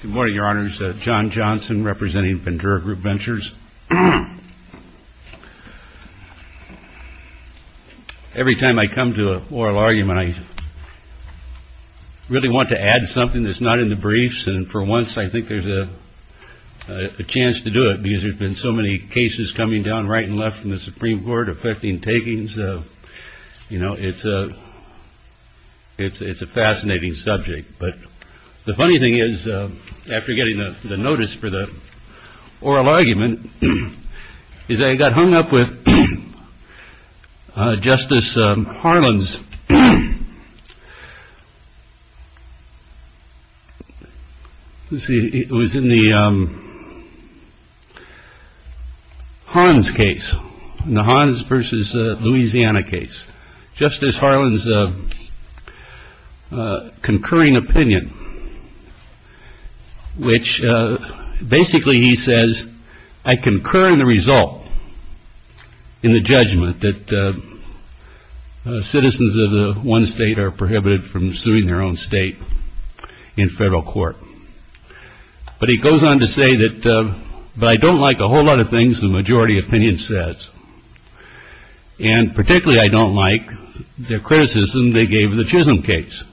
Good morning, Your Honors. John Johnson, representing Ventura Group Ventures. Every time I come to an oral argument, I really want to add something that's not in the briefs. And for once, I think there's a chance to do it because there's been so many cases coming down right and left from the Supreme Court affecting takings. So, you know, it's a it's it's a fascinating subject. But the funny thing is, after getting the notice for the oral argument, is I got hung up with Justice Harlins. It was in the Hans case, the Hans versus Louisiana case. Justice Harlins, a concurring opinion, which basically he says, I concur in the result, in the judgment that citizens of the one state are prohibited from suing their own state in federal court. But he goes on to say that, but I don't like a whole lot of things the majority opinion says. And particularly, I don't like the criticism they gave the Chisholm case.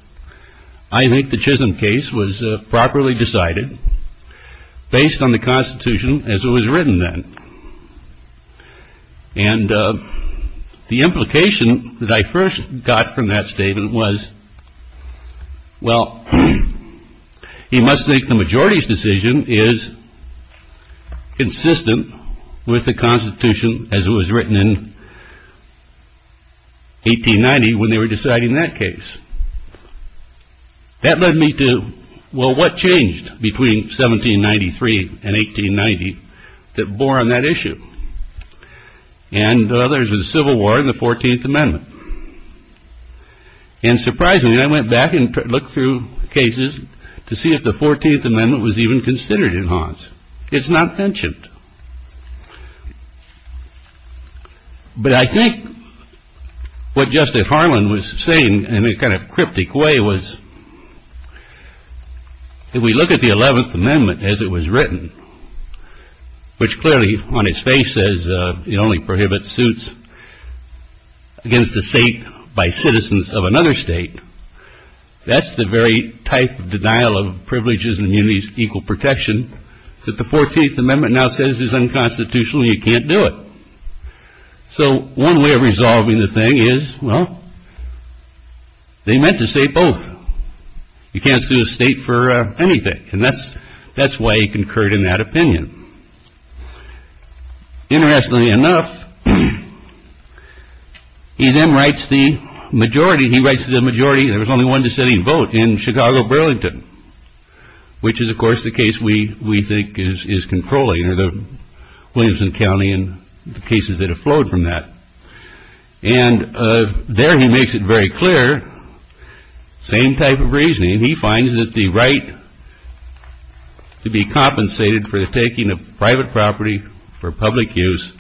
I think the Chisholm case was properly decided based on the Constitution as it was written then. And the implication that I first got from that statement was, well, he must think the majority's decision is consistent with the Constitution as it was written in 1890 when they were deciding that case. That led me to, well, what changed between 1793 and 1890 that bore on that issue? And others were the Civil War and the 14th Amendment. And surprisingly, I went back and looked through cases to see if the 14th Amendment was even considered in Hans. It's not mentioned. But I think what Justice Harlins was saying, in a kind of cryptic way, was if we look at the 11th Amendment as it was written, which clearly, on its face, says it only prohibits suits against the state by citizens of another state, that's the very type of denial of privileges and equal protection that the 14th Amendment now says is unconstitutional. You can't do it. So one way of resolving the thing is, well, they meant to say both. You can't sue a state for anything. And that's why he concurred in that opinion. Interestingly enough, he then writes the majority. He writes the majority. There was only one deciding vote in Chicago-Burlington, which is, of course, the case we we think is controlling, or the Williamson County and the cases that have flowed from that. And there he makes it very clear. Same type of reasoning. He finds that the right to be compensated for the taking of private property for public use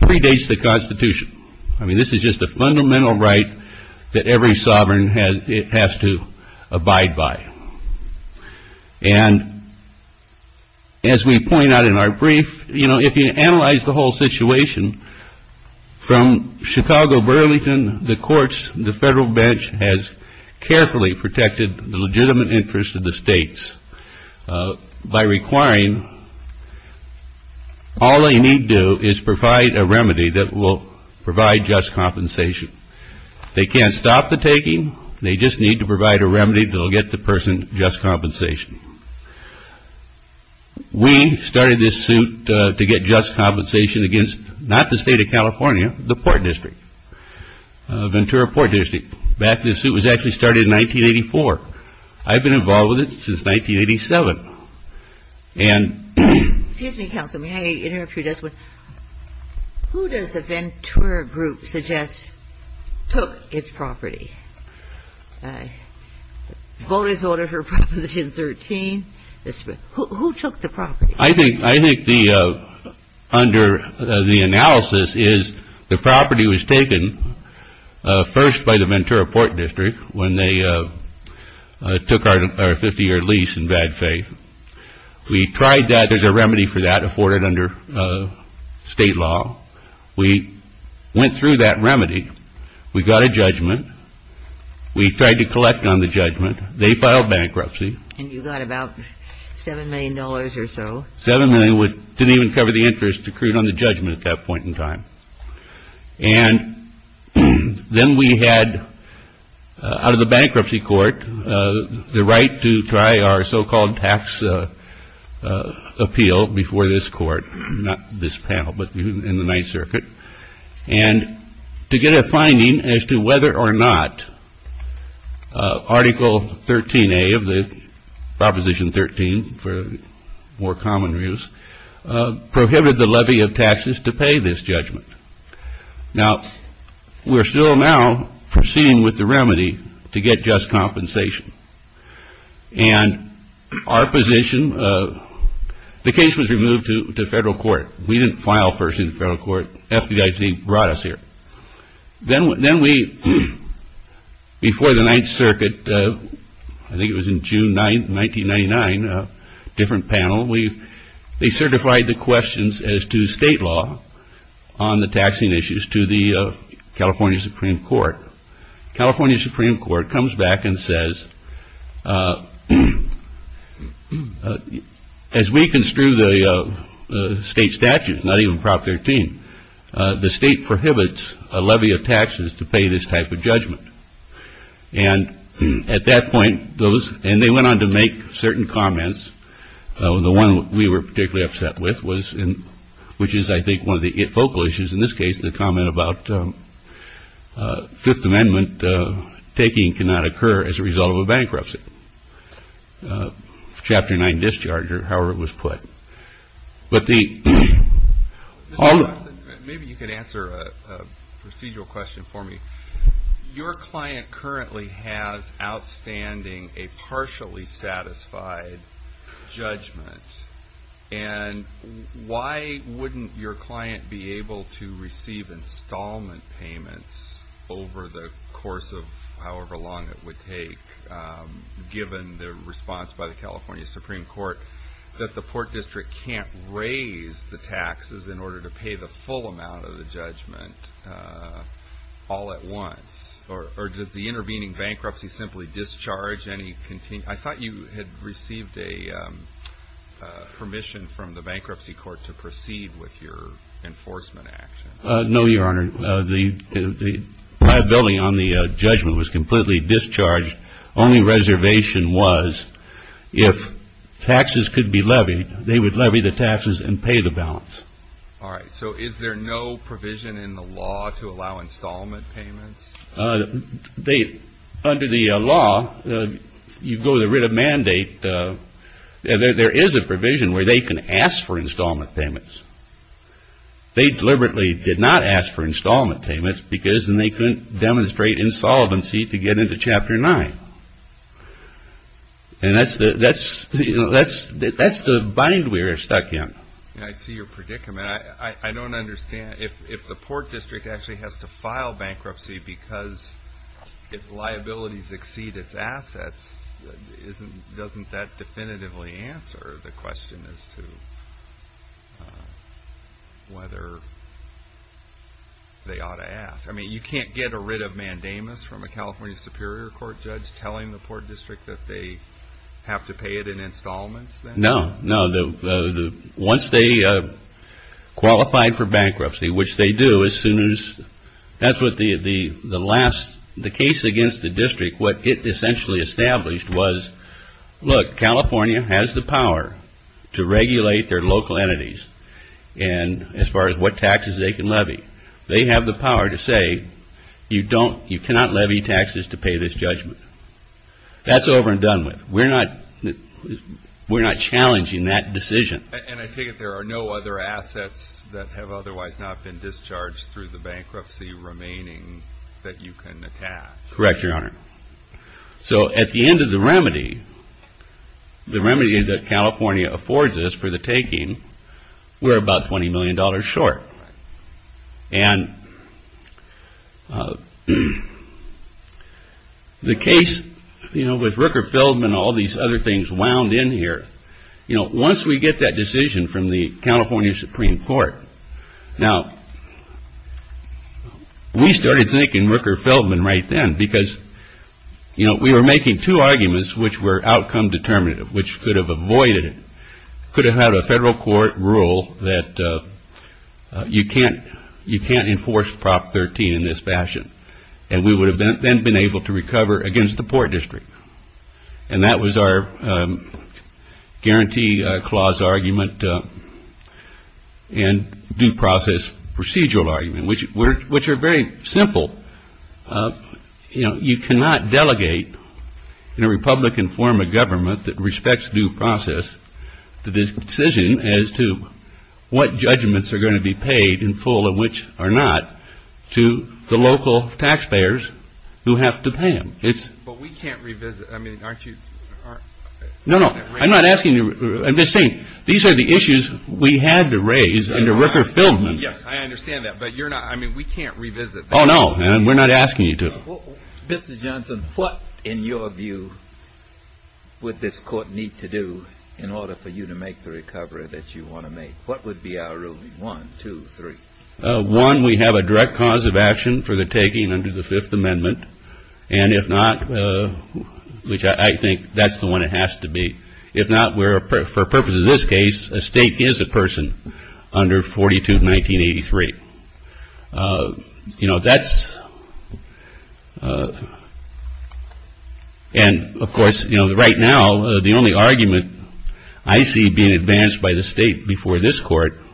predates the Constitution. I mean, this is just a fundamental right that every sovereign has to abide by. And as we point out in our brief, you know, if you analyze the whole situation from Chicago-Burlington, the courts, the federal bench has carefully protected the legitimate interests of the states by requiring, all they need to do is provide a remedy that will provide just compensation. They can't stop the taking. They just need to provide a remedy that will get the person just compensation. We started this suit to get just compensation against, not the state of California, the Port District, Ventura Port District. In fact, this suit was actually started in 1984. I've been involved with it since 1987. Excuse me, counsel, may I interrupt you just one? Who does the Ventura group suggest took its property? The vote is in order for Proposition 13. Who took the property? I think under the analysis is the property was taken first by the Ventura Port District when they took our 50-year lease in bad faith. We tried that. There's a remedy for that afforded under state law. We went through that remedy. We got a judgment. We tried to collect on the judgment. They filed bankruptcy. And you got about $7 million or so. $7 million didn't even cover the interest accrued on the judgment at that point in time. And then we had, out of the bankruptcy court, the right to try our so-called tax appeal before this court, not this panel, but in the Ninth Circuit, and to get a finding as to whether or not Article 13A of the Proposition 13, for more common use, prohibited the levy of taxes to pay this judgment. Now, we're still now proceeding with the remedy to get just compensation. And our position, the case was removed to federal court. We didn't file first in the federal court. FDIC brought us here. Then we, before the Ninth Circuit, I think it was in June 9, 1999, a different panel, they certified the questions as to state law on the taxing issues to the California Supreme Court. California Supreme Court comes back and says, as we construe the state statutes, not even Prop 13, the state prohibits a levy of taxes to pay this type of judgment. And at that point, those, and they went on to make certain comments. The one we were particularly upset with was, which is I think one of the focal issues in this case, the comment about Fifth Amendment taking cannot occur as a result of a bankruptcy. Chapter 9 discharger, however it was put. But the... Maybe you could answer a procedural question for me. Your client currently has outstanding, a partially satisfied judgment. And why wouldn't your client be able to receive installment payments over the course of however long it would take, given the response by the California Supreme Court that the Port District can't raise the taxes in order to pay the full amount of the judgment all at once? Or does the intervening bankruptcy simply discharge any... I thought you had received a permission from the bankruptcy court to proceed with your enforcement action. No, Your Honor. The liability on the judgment was completely discharged. Only reservation was, if taxes could be levied, they would levy the taxes and pay the balance. All right. So is there no provision in the law to allow installment payments? They... Under the law, you go to the writ of mandate, there is a provision where they can ask for installment payments. They deliberately did not ask for installment payments because they couldn't demonstrate insolvency to get into Chapter 9. And that's the bind we are stuck in. I see your predicament. I don't understand. If the Port District actually has to file bankruptcy because its liabilities exceed its assets, doesn't that definitively answer the question as to whether they ought to ask? I mean, you can't get a writ of mandamus from a California Superior Court judge telling the Port District that they have to pay it in installments? No. No. Once they qualified for bankruptcy, which they do, as soon as... That's what the last... The case against the District, what it essentially established was, look, California has the power to regulate their local entities as far as what taxes they can levy. They have the power to say, you cannot levy taxes to pay this judgment. That's over and done with. We're not challenging that decision. And I take it there are no other assets that have otherwise not been discharged through the bankruptcy remaining that you can attach? Correct, Your Honor. So at the end of the remedy, the remedy that California affords us for the taking, we're about $20 million short. And... The case with Rooker-Feldman and all these other things wound in here, once we get that decision from the California Supreme Court, now, we started thinking Rooker-Feldman right then, because we were making two arguments which were outcome determinative, which could have avoided it, could have had a federal court rule that you can't enforce Prop 13 in this fashion, and we would have then been able to recover against the Port District. And that was our guarantee clause argument and due process procedural argument, which are very simple. You cannot delegate in a Republican form of government that respects due process the decision as to what judgments are going to be paid in full and which are not to the local taxpayers who have to pay them. But we can't revisit, I mean, aren't you... No, no, I'm not asking you, I'm just saying, these are the issues we had to raise under Rooker-Feldman. Yes, I understand that, but you're not, I mean, we can't revisit that. Oh, no, and we're not asking you to. Mr. Johnson, what, in your view, would this court need to do in order for you to make the recovery that you want to make? What would be our ruling? One, two, three. One, we have a direct cause of action for the taking under the Fifth Amendment, and if not, which I think that's the one it has to be, if not, for purposes of this case, a stake is a person under 42 of 1983. You know, that's... And, of course, you know, right now, the only argument I see being advanced by the state before this court, if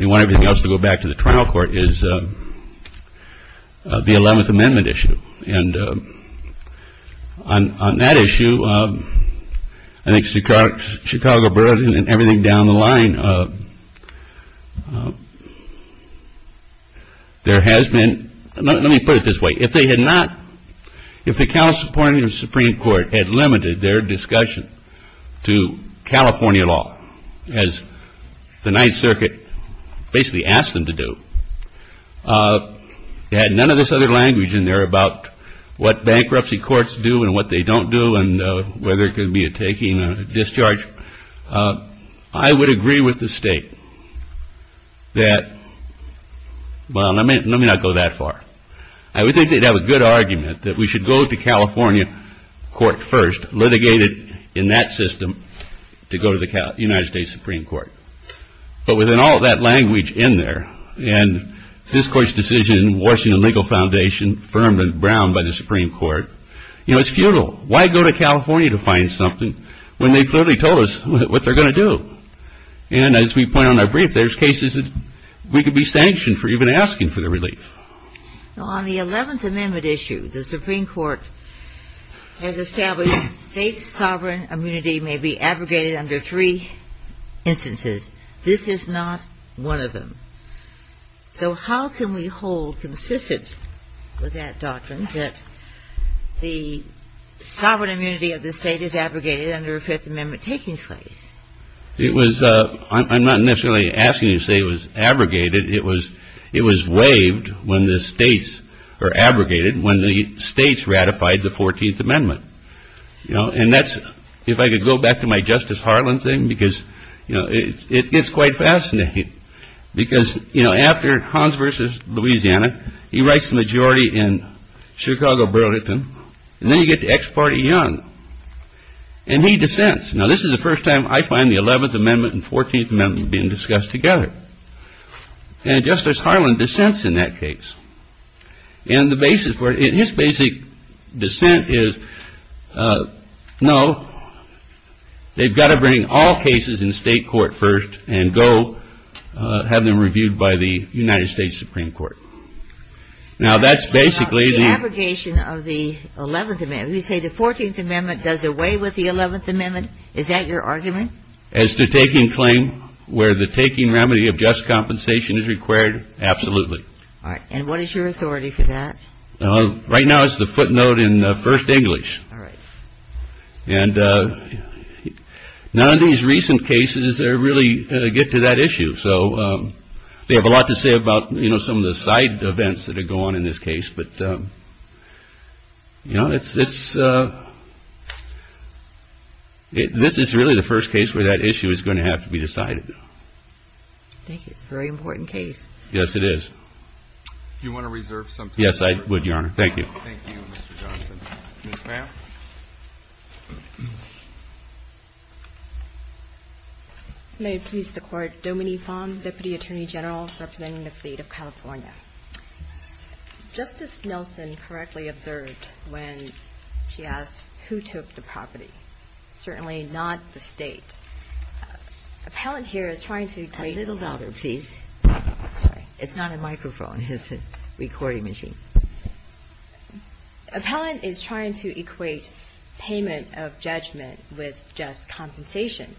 you want everything else to go back to the trial court, is the Eleventh Amendment issue. And on that issue, I think Chicago Burden and everything down the line there has been... Let me put it this way. If they had not... If the California Supreme Court had limited their discussion to California law, as the Ninth Circuit basically asked them to do, had none of this other language in there about what bankruptcy courts do and what they don't do, and whether it could be a taking, a discharge, I would agree with the state that, well, let me not go that far. I would think they'd have a good argument that we should go to California court first, litigated in that system, to go to the United States Supreme Court. But within all of that language in there, and this court's decision, Washington Legal Foundation, firm and brown by the Supreme Court, you know, it's futile. Why go to California to find something when they clearly told us what they're going to do? And as we point out in our brief, there's cases that we could be sanctioned for even asking for the relief. On the 11th Amendment issue, the Supreme Court has established state sovereign immunity may be abrogated under three instances. This is not one of them. So how can we hold consistent with that doctrine that the sovereign immunity of the state is abrogated under a Fifth Amendment taking place? It was, I'm not necessarily asking you to say it was abrogated, it was waived when the states, or abrogated when the states ratified the 14th Amendment. You know, and that's, if I could go back to my Justice Harlan thing, because, you know, it gets quite fascinating. Because, you know, after Hans versus Louisiana, he writes the majority in Chicago Burlington, and then you get to ex parte Young. And he dissents. Now this is the first time I find the 11th Amendment and 14th Amendment being discussed together. And Justice Harlan dissents in that case. And the basis for it, his basic dissent is, no, they've got to bring all cases in state court first, and go have them reviewed by the United States Supreme Court. The abrogation of the 11th Amendment. You say the 14th Amendment does away with the 11th Amendment, is that your argument? As to taking claim where the taking remedy of just compensation is required, absolutely. All right, and what is your authority for that? Right now it's the footnote in First English. All right. And none of these recent cases really get to that issue. So they have a lot to say about, you know, some of the side events that are going on in this case. But, you know, this is really the first case where that issue is going to have to be decided. I think it's a very important case. Yes, it is. Do you want to reserve some time? Yes, I would, Your Honor. Thank you. Thank you, Mr. Johnson. Ms. Pham? May it please the Court, Dominique Pham, Deputy Attorney General representing the State of California. Justice Nelson correctly observed when she asked who took the property. Certainly not the State. Appellant here is trying to equate... A little louder, please. Sorry. It's not a microphone. It's a recording machine. Appellant is trying to equate payment of judgment with just compensation.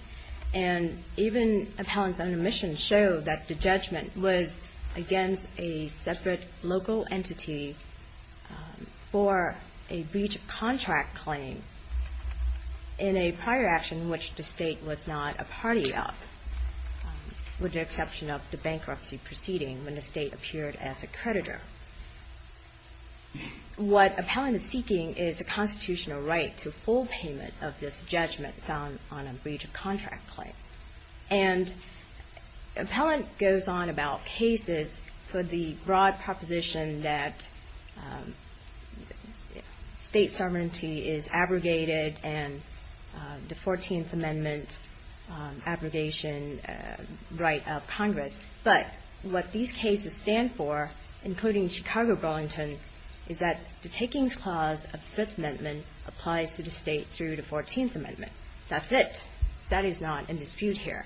And even Appellant's own admission showed that the judgment was against a separate local entity for a breach of contract claim in a prior action which the State was not a party of, with the exception of the bankruptcy proceeding when the State appeared as a creditor. What Appellant is seeking is a constitutional right to full payment of this judgment found on a breach of contract claim. And Appellant goes on about cases for the broad proposition that State sovereignty is abrogated and the 14th Amendment abrogation right of Congress. But what these cases stand for, including Chicago Burlington, is that the takings clause of the Fifth Amendment applies to the State through the 14th Amendment. That's it. That is not in dispute here.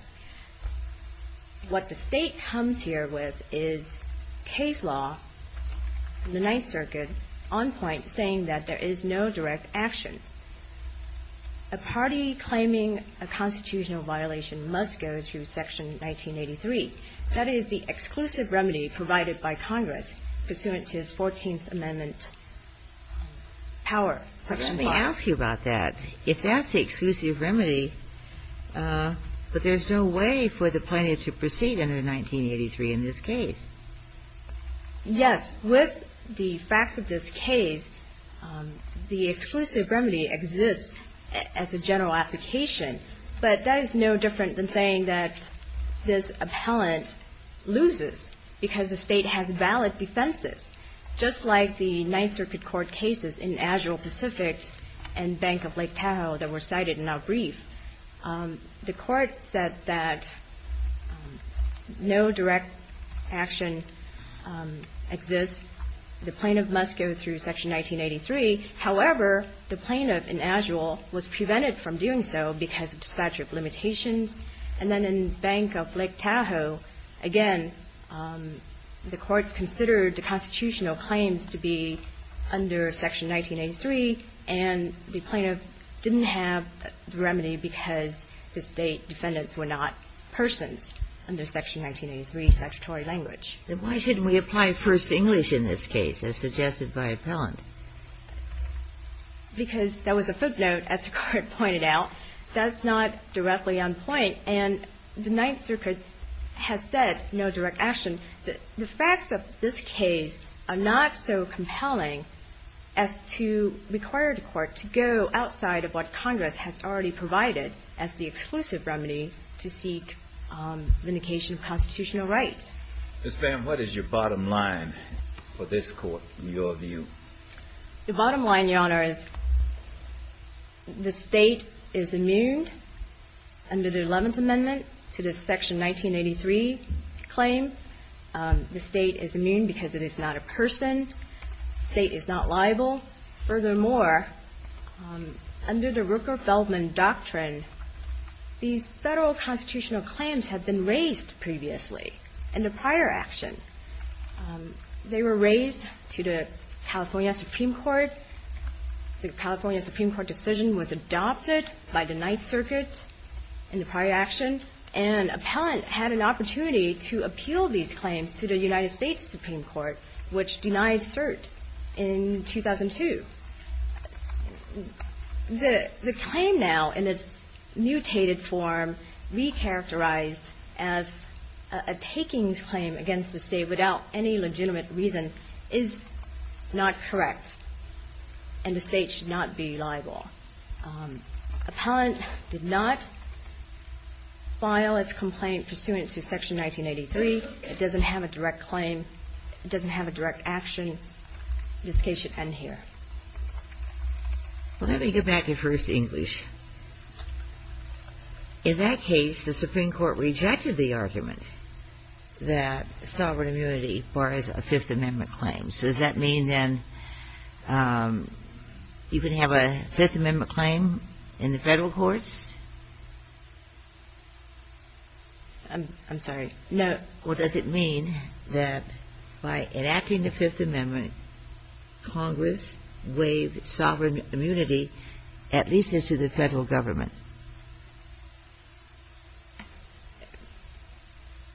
What the State comes here with is case law in the Ninth Circuit on point saying that there is no direct action. A party claiming a constitutional violation must go through Section 1983. That is the exclusive remedy provided by Congress pursuant to his 14th Amendment power. Let me ask you about that. If that's the exclusive remedy, but there's no way for the plaintiff to proceed under 1983 in this case. Yes. With the facts of this case, the exclusive remedy exists as a general application. But that is no different than saying that this Appellant loses because the State has valid defenses. Just like the Ninth Circuit Court cases in Agile Pacific and Bank of Lake Tahoe that were cited in our brief, the Court said that no direct action exists. The plaintiff must go through Section 1983. However, the plaintiff in Agile was prevented from doing so because of statute of limitations. And then in Bank of Lake Tahoe, again, the Court considered the constitutional claims to be under Section 1983 and the plaintiff didn't have the remedy because the State defendants were not persons under Section 1983, statutory language. Then why shouldn't we apply first English in this case, as suggested by Appellant? Because that was a footnote, as the Court pointed out. That's not directly on point. And the Ninth Circuit has said no direct action. The facts of this case are not so compelling as to require the Court to go outside of what Congress has already provided as the exclusive remedy to seek vindication of constitutional rights. Ms. Pham, what is your bottom line for this Court, in your view? The bottom line, Your Honor, is the State is immune under the Eleventh Amendment to the Section 1983 claim. The State is immune because it is not a person. The State is not liable. Furthermore, under the Rooker-Feldman Doctrine, these Federal constitutional claims have been raised previously in the prior action. They were raised to the California Supreme Court. The California Supreme Court decision was adopted by the Ninth Circuit in the prior action. And Appellant had an opportunity to appeal these claims to the United States Supreme Court, which denied cert in 2002. The claim now, in its mutated form, re-characterized as a takings claim against the State without any legitimate reason, is not correct. And the State should not be liable. Appellant did not file its complaint pursuant to Section 1983. It doesn't have a direct claim. It doesn't have a direct action. This case should end here. Well, let me go back to First English. In that case, the Supreme Court rejected the argument that sovereign immunity bars a Fifth Amendment claim. So does that mean then you can have a Fifth Amendment claim in the Federal courts? I'm sorry. No. Well, does it mean that by enacting the Fifth Amendment, Congress waived sovereign immunity at least as to the Federal Government?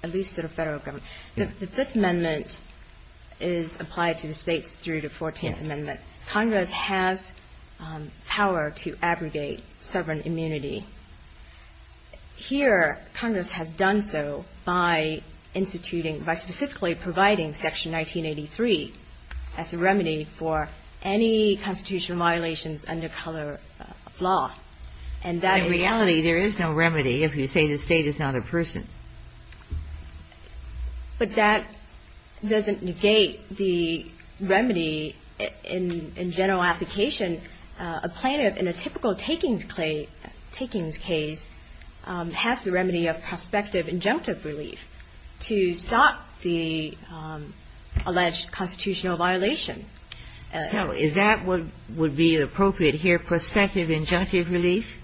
At least to the Federal Government. The Fifth Amendment is applied to the States through the Fourteenth Amendment. Congress has power to abrogate sovereign immunity Here, Congress has done so by instituting, by specifically providing Section 1983 as a remedy for any constitutional violations under color law. In reality, there is no remedy if you say the State is not a person. But that doesn't negate the remedy in general application a plaintiff in a typical takings case has the remedy of prospective injunctive relief to stop the alleged constitutional violation. So is that what would be appropriate here? Prospective injunctive relief?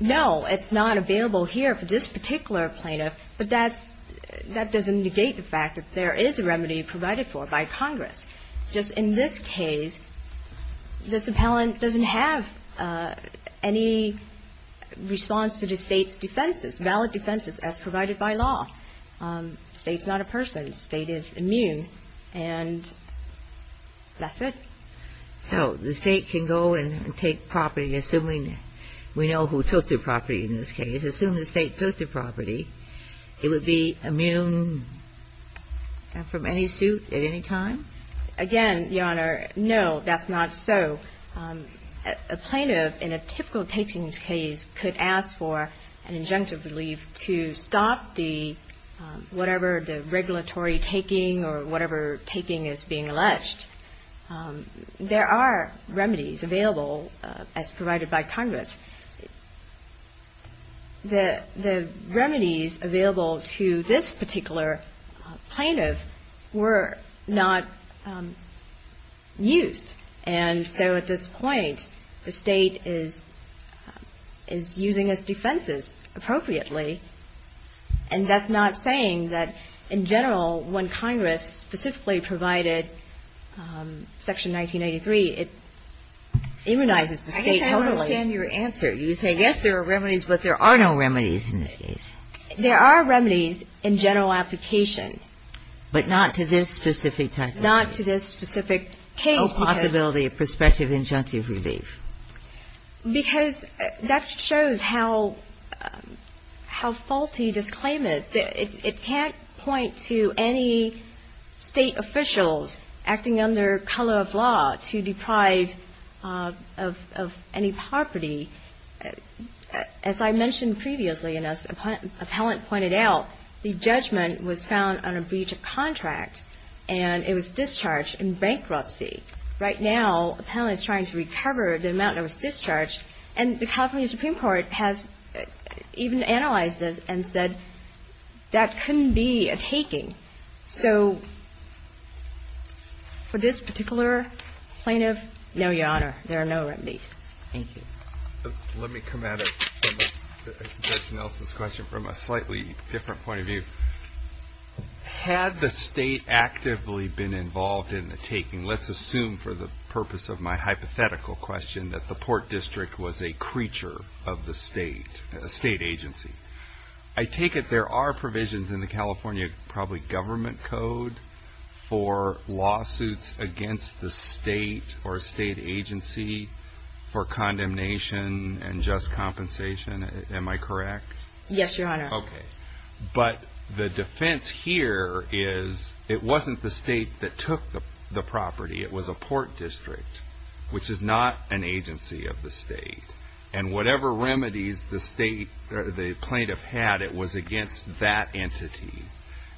No. It's not available here for this particular plaintiff, but that doesn't negate the fact that there is a remedy provided for by Congress. Just in this case, this appellant doesn't have any response to the State's defenses, valid defenses, as provided by law. State's not a person. State is immune. And that's it. So the State can go and take property assuming we know who took the property in this case. Assuming the State took the property, it would be immune from any suit at any time? Again, Your Honor, no, that's not so. A plaintiff in a typical takings case could ask for an injunctive relief to stop the, whatever the regulatory taking or whatever taking is being alleged. There are remedies available as provided by Congress. The remedies available to this particular plaintiff were not used. And so at this point, the State is using its defenses appropriately. And that's not saying that, in general, when Congress specifically provided Section 1983, it immunizes the State totally. I guess I understand your answer. You say, yes, there are remedies, but there are no remedies in this case. There are remedies in general application. But not to this specific case. No possibility of prospective injunctive relief. Because that shows how faulty this claim is. It can't point to any State officials acting under color of law to deprive of any property. As I mentioned previously, and as an appellant pointed out, the judgment was found on a breach of contract, and it was discharged in bankruptcy. Right now, the appellant is trying to recover the amount that was discharged, and the California Supreme Court has even analyzed this and said, that couldn't be a taking. So for this particular plaintiff, no, Your Honor, there are no remedies. Thank you. Let me come at it from Judge Nelson's question from a slightly different point of view. Had the State actively been involved in the taking, let's assume for the purpose of my hypothetical question, that the Port District was a creature of the State, a State agency. I take it there are provisions in the California, probably government code, for lawsuits against the State, or a State agency for condemnation and just compensation. Am I correct? Yes, Your Honor. Okay. But the defense here is, it wasn't the State that took the property, it was a Port District, which is not an agency of the State. And whatever remedies the State, or the plaintiff had, it was against that entity.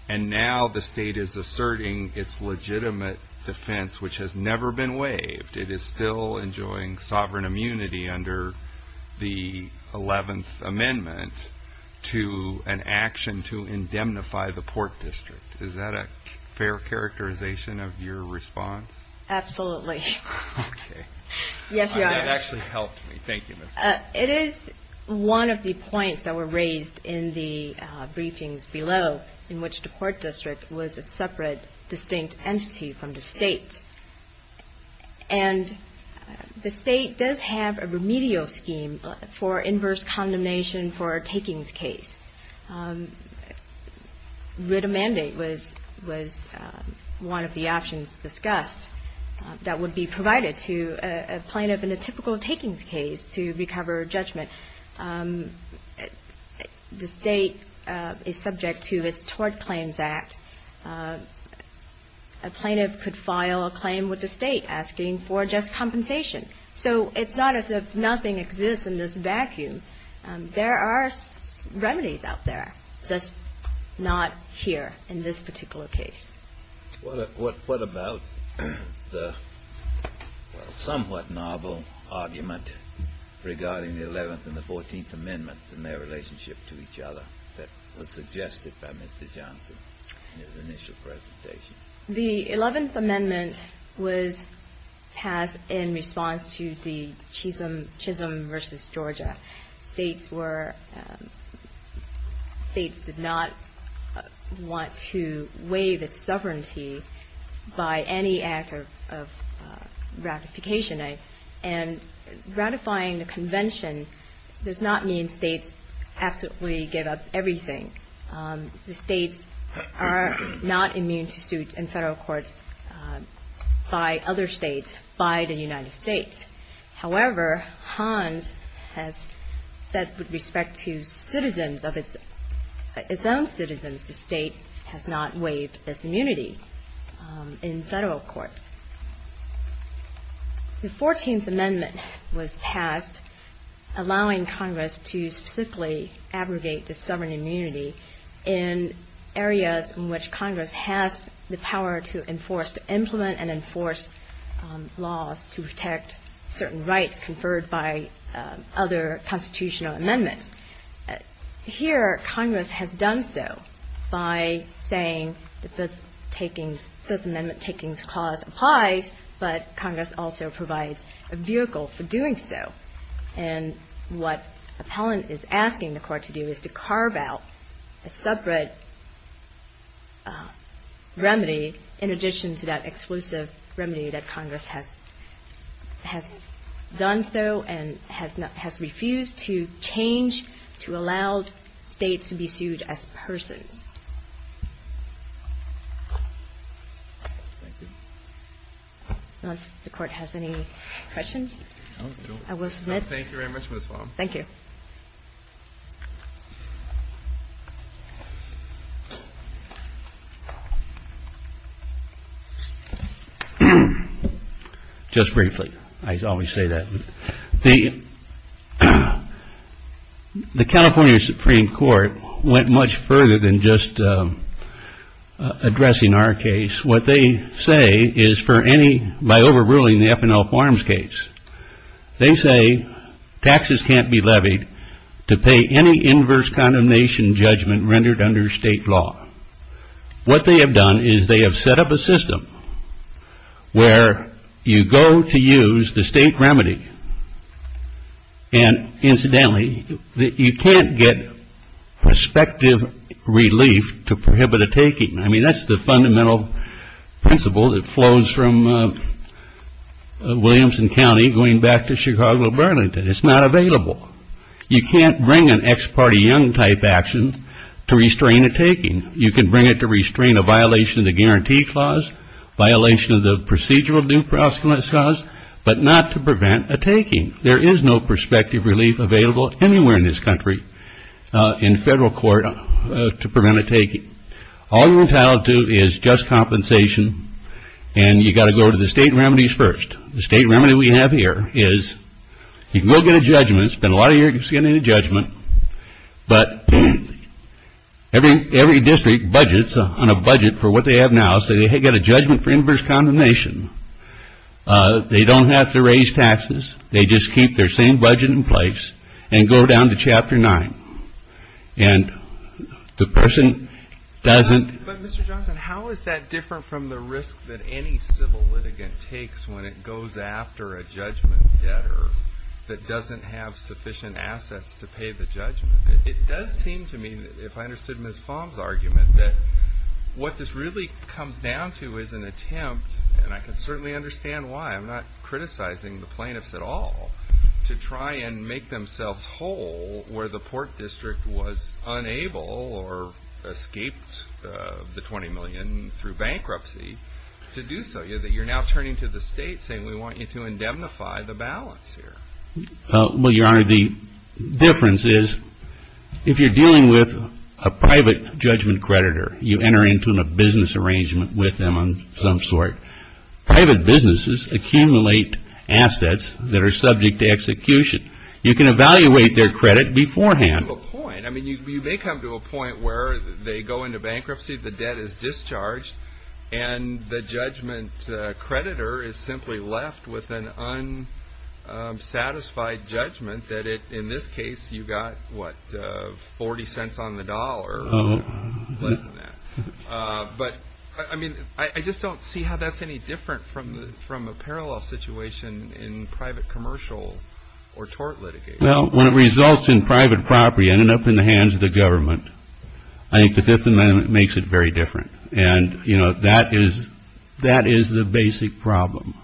And now the State is asserting its legitimate defense, which has never been waived. It is still enjoying sovereign immunity under the 11th to an action to indemnify the Port District. Is that a fair characterization of your response? Absolutely. Okay. Yes, Your Honor. That actually helped me. Thank you, Ms. It is one of the points that were raised in the briefings below, in which the Port District was a separate distinct entity from the State. And the State does have a remedial scheme for inverse condemnation for a takings case. Rid a mandate was one of the options discussed that would be provided to a plaintiff in a typical takings case to recover judgment. The State is subject to its Tort Claims Act. A plaintiff could file a claim with the State, asking for just compensation. So it's not as if nothing exists in this vacuum. There are remedies out there, just not here in this particular case. What about the somewhat novel argument regarding the 11th and the 14th Amendments and their relationship to each other that was suggested by Mr. Johnson in his initial presentation? The 11th Amendment was passed in response to the Chisholm v. Georgia. States were States did not want to waive its sovereignty by any act of ratification. And ratifying the convention does not mean States absolutely give up everything. The States are not immune to suits in Federal courts by other States, by the United States. However, Hans has said with respect to citizens of its own citizens, the State has not waived its immunity in Federal courts. The 14th Amendment was passed, allowing Congress to specifically abrogate the sovereign immunity in areas in which Congress has the power to enforce, to implement and enforce laws to protect certain rights conferred by other constitutional amendments. Here, Congress has done so by saying the Fifth Amendment Takings Clause applies, but Congress also provides a vehicle for doing so. And what appellant is asking the Court to do is to carve out a separate remedy in addition to that exclusive remedy that Congress has done so and has refused to change to allow States to be sued as persons. Unless the Court has any questions, I will submit. Thank you. Just briefly. I always say that. The California Supreme Court went much further than just addressing our case. What they say is for any, by overruling the F&L Farms case, they say taxes can't be levied to pay any inverse condemnation judgment rendered under State law. What they have done is they have set up a system where you go to use the State remedy and, incidentally, you can't get prospective relief to prohibit a taking. I mean, that's the fundamental principle that flows from Williamson County going back to Chicago Burlington. It's not available. You can't bring an ex parte young type action to restrain a taking. You can bring it to restrain a violation of the guarantee clause, violation of the procedural due process clause, but not to prevent a taking. There is no prospective relief available anywhere in this country in federal court to prevent a taking. All you're entitled to is just compensation and you've got to go to the State remedies first. The State remedy we have here is you can go get a judgment, spend a lot of years getting a judgment, but every district budgets on a budget for what they have now, so they get a judgment for inverse condemnation. They don't have to raise taxes. They just keep their same budget in place and go down to Chapter 9. And the person doesn't... But Mr. Johnson, how is that different from the risk that any civil litigant takes when it goes after a judgment debtor that doesn't have sufficient assets to pay the judgment? It does seem to me, if I understood Ms. Fong's argument, that what this really comes down to is an attempt, and I can certainly understand why, I'm not criticizing the plaintiffs at all, to try and make themselves whole where the Port District was unable or escaped the $20 million through bankruptcy to do so. You're now turning to the State saying we want you to indemnify the balance here. Well, Your Honor, the difference is if you're dealing with a private judgment creditor, you enter into a business arrangement with them of some sort. Private businesses accumulate assets that are subject to execution. You can evaluate their credit beforehand. You may come to a point where they go into bankruptcy, the debt is discharged, and the judgment creditor is simply left with an unsatisfied judgment that in this case you got, what, 40 cents on the dollar or less than that. But, I mean, I just don't see how that's any different from a parallel situation in private commercial or tort litigation. Well, when it results in private property ending up in the hands of the government, I think the Fifth Amendment makes it very different, and you know, that is the basic problem.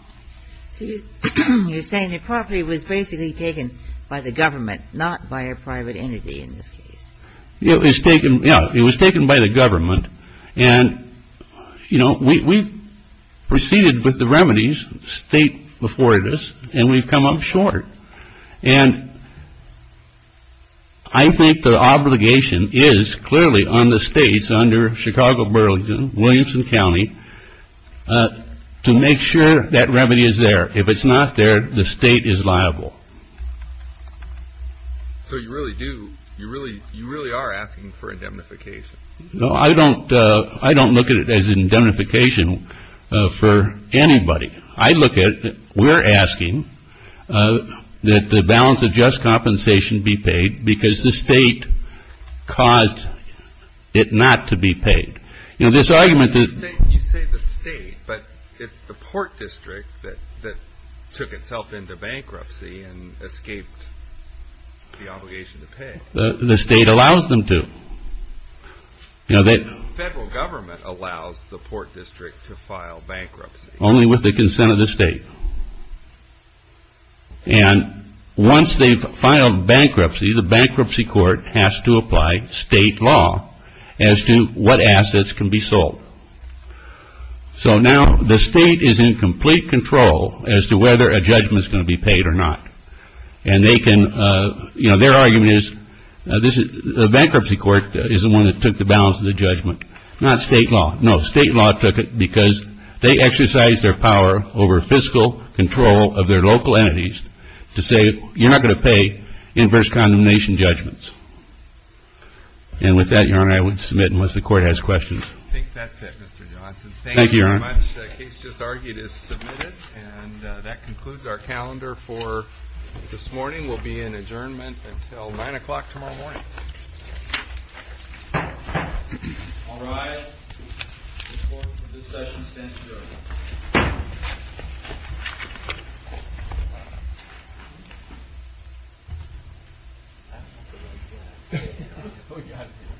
So you're saying that property was basically taken by the government, not by a private entity in this case. It was taken, yeah, it was taken by the government, and, you know, we proceeded with the remedies State afforded us, and we've come up short. And I think the obligation is clearly on the States under Chicago Burlington, Williamson County, to make sure that remedy is there. If it's not there, the State is liable. So you really do, you really are asking for indemnification. No, I don't look at it as indemnification for anybody. I look at it, we're asking that the balance of just compensation be paid because the State caused it not to be paid. You know, this argument You say the State, but it's the Port District that took itself into bankruptcy and escaped the obligation to pay. The State allows them to. You know, the Federal Government allows the Port District to file bankruptcy. Only with the consent of the State. And once they've filed bankruptcy, the bankruptcy court has to apply State law as to what assets can be sold. So now the State is in complete control as to whether a judgment is going to be paid or not. And they can you know, their argument is the bankruptcy court is the one that took the balance of the judgment. Not State law. No, State law took it because they exercised their power over fiscal control of their local entities to say you're not going to pay inverse condemnation judgments. And with that, Your Honor, I would submit unless the Court has questions. I think that's it, Mr. Johnson. Thank you very much. The case just argued is submitted. And that concludes our calendar for this morning. We'll be in adjournment until 9 o'clock tomorrow morning. I'll rise before the discussion stands adjourned. Thank you.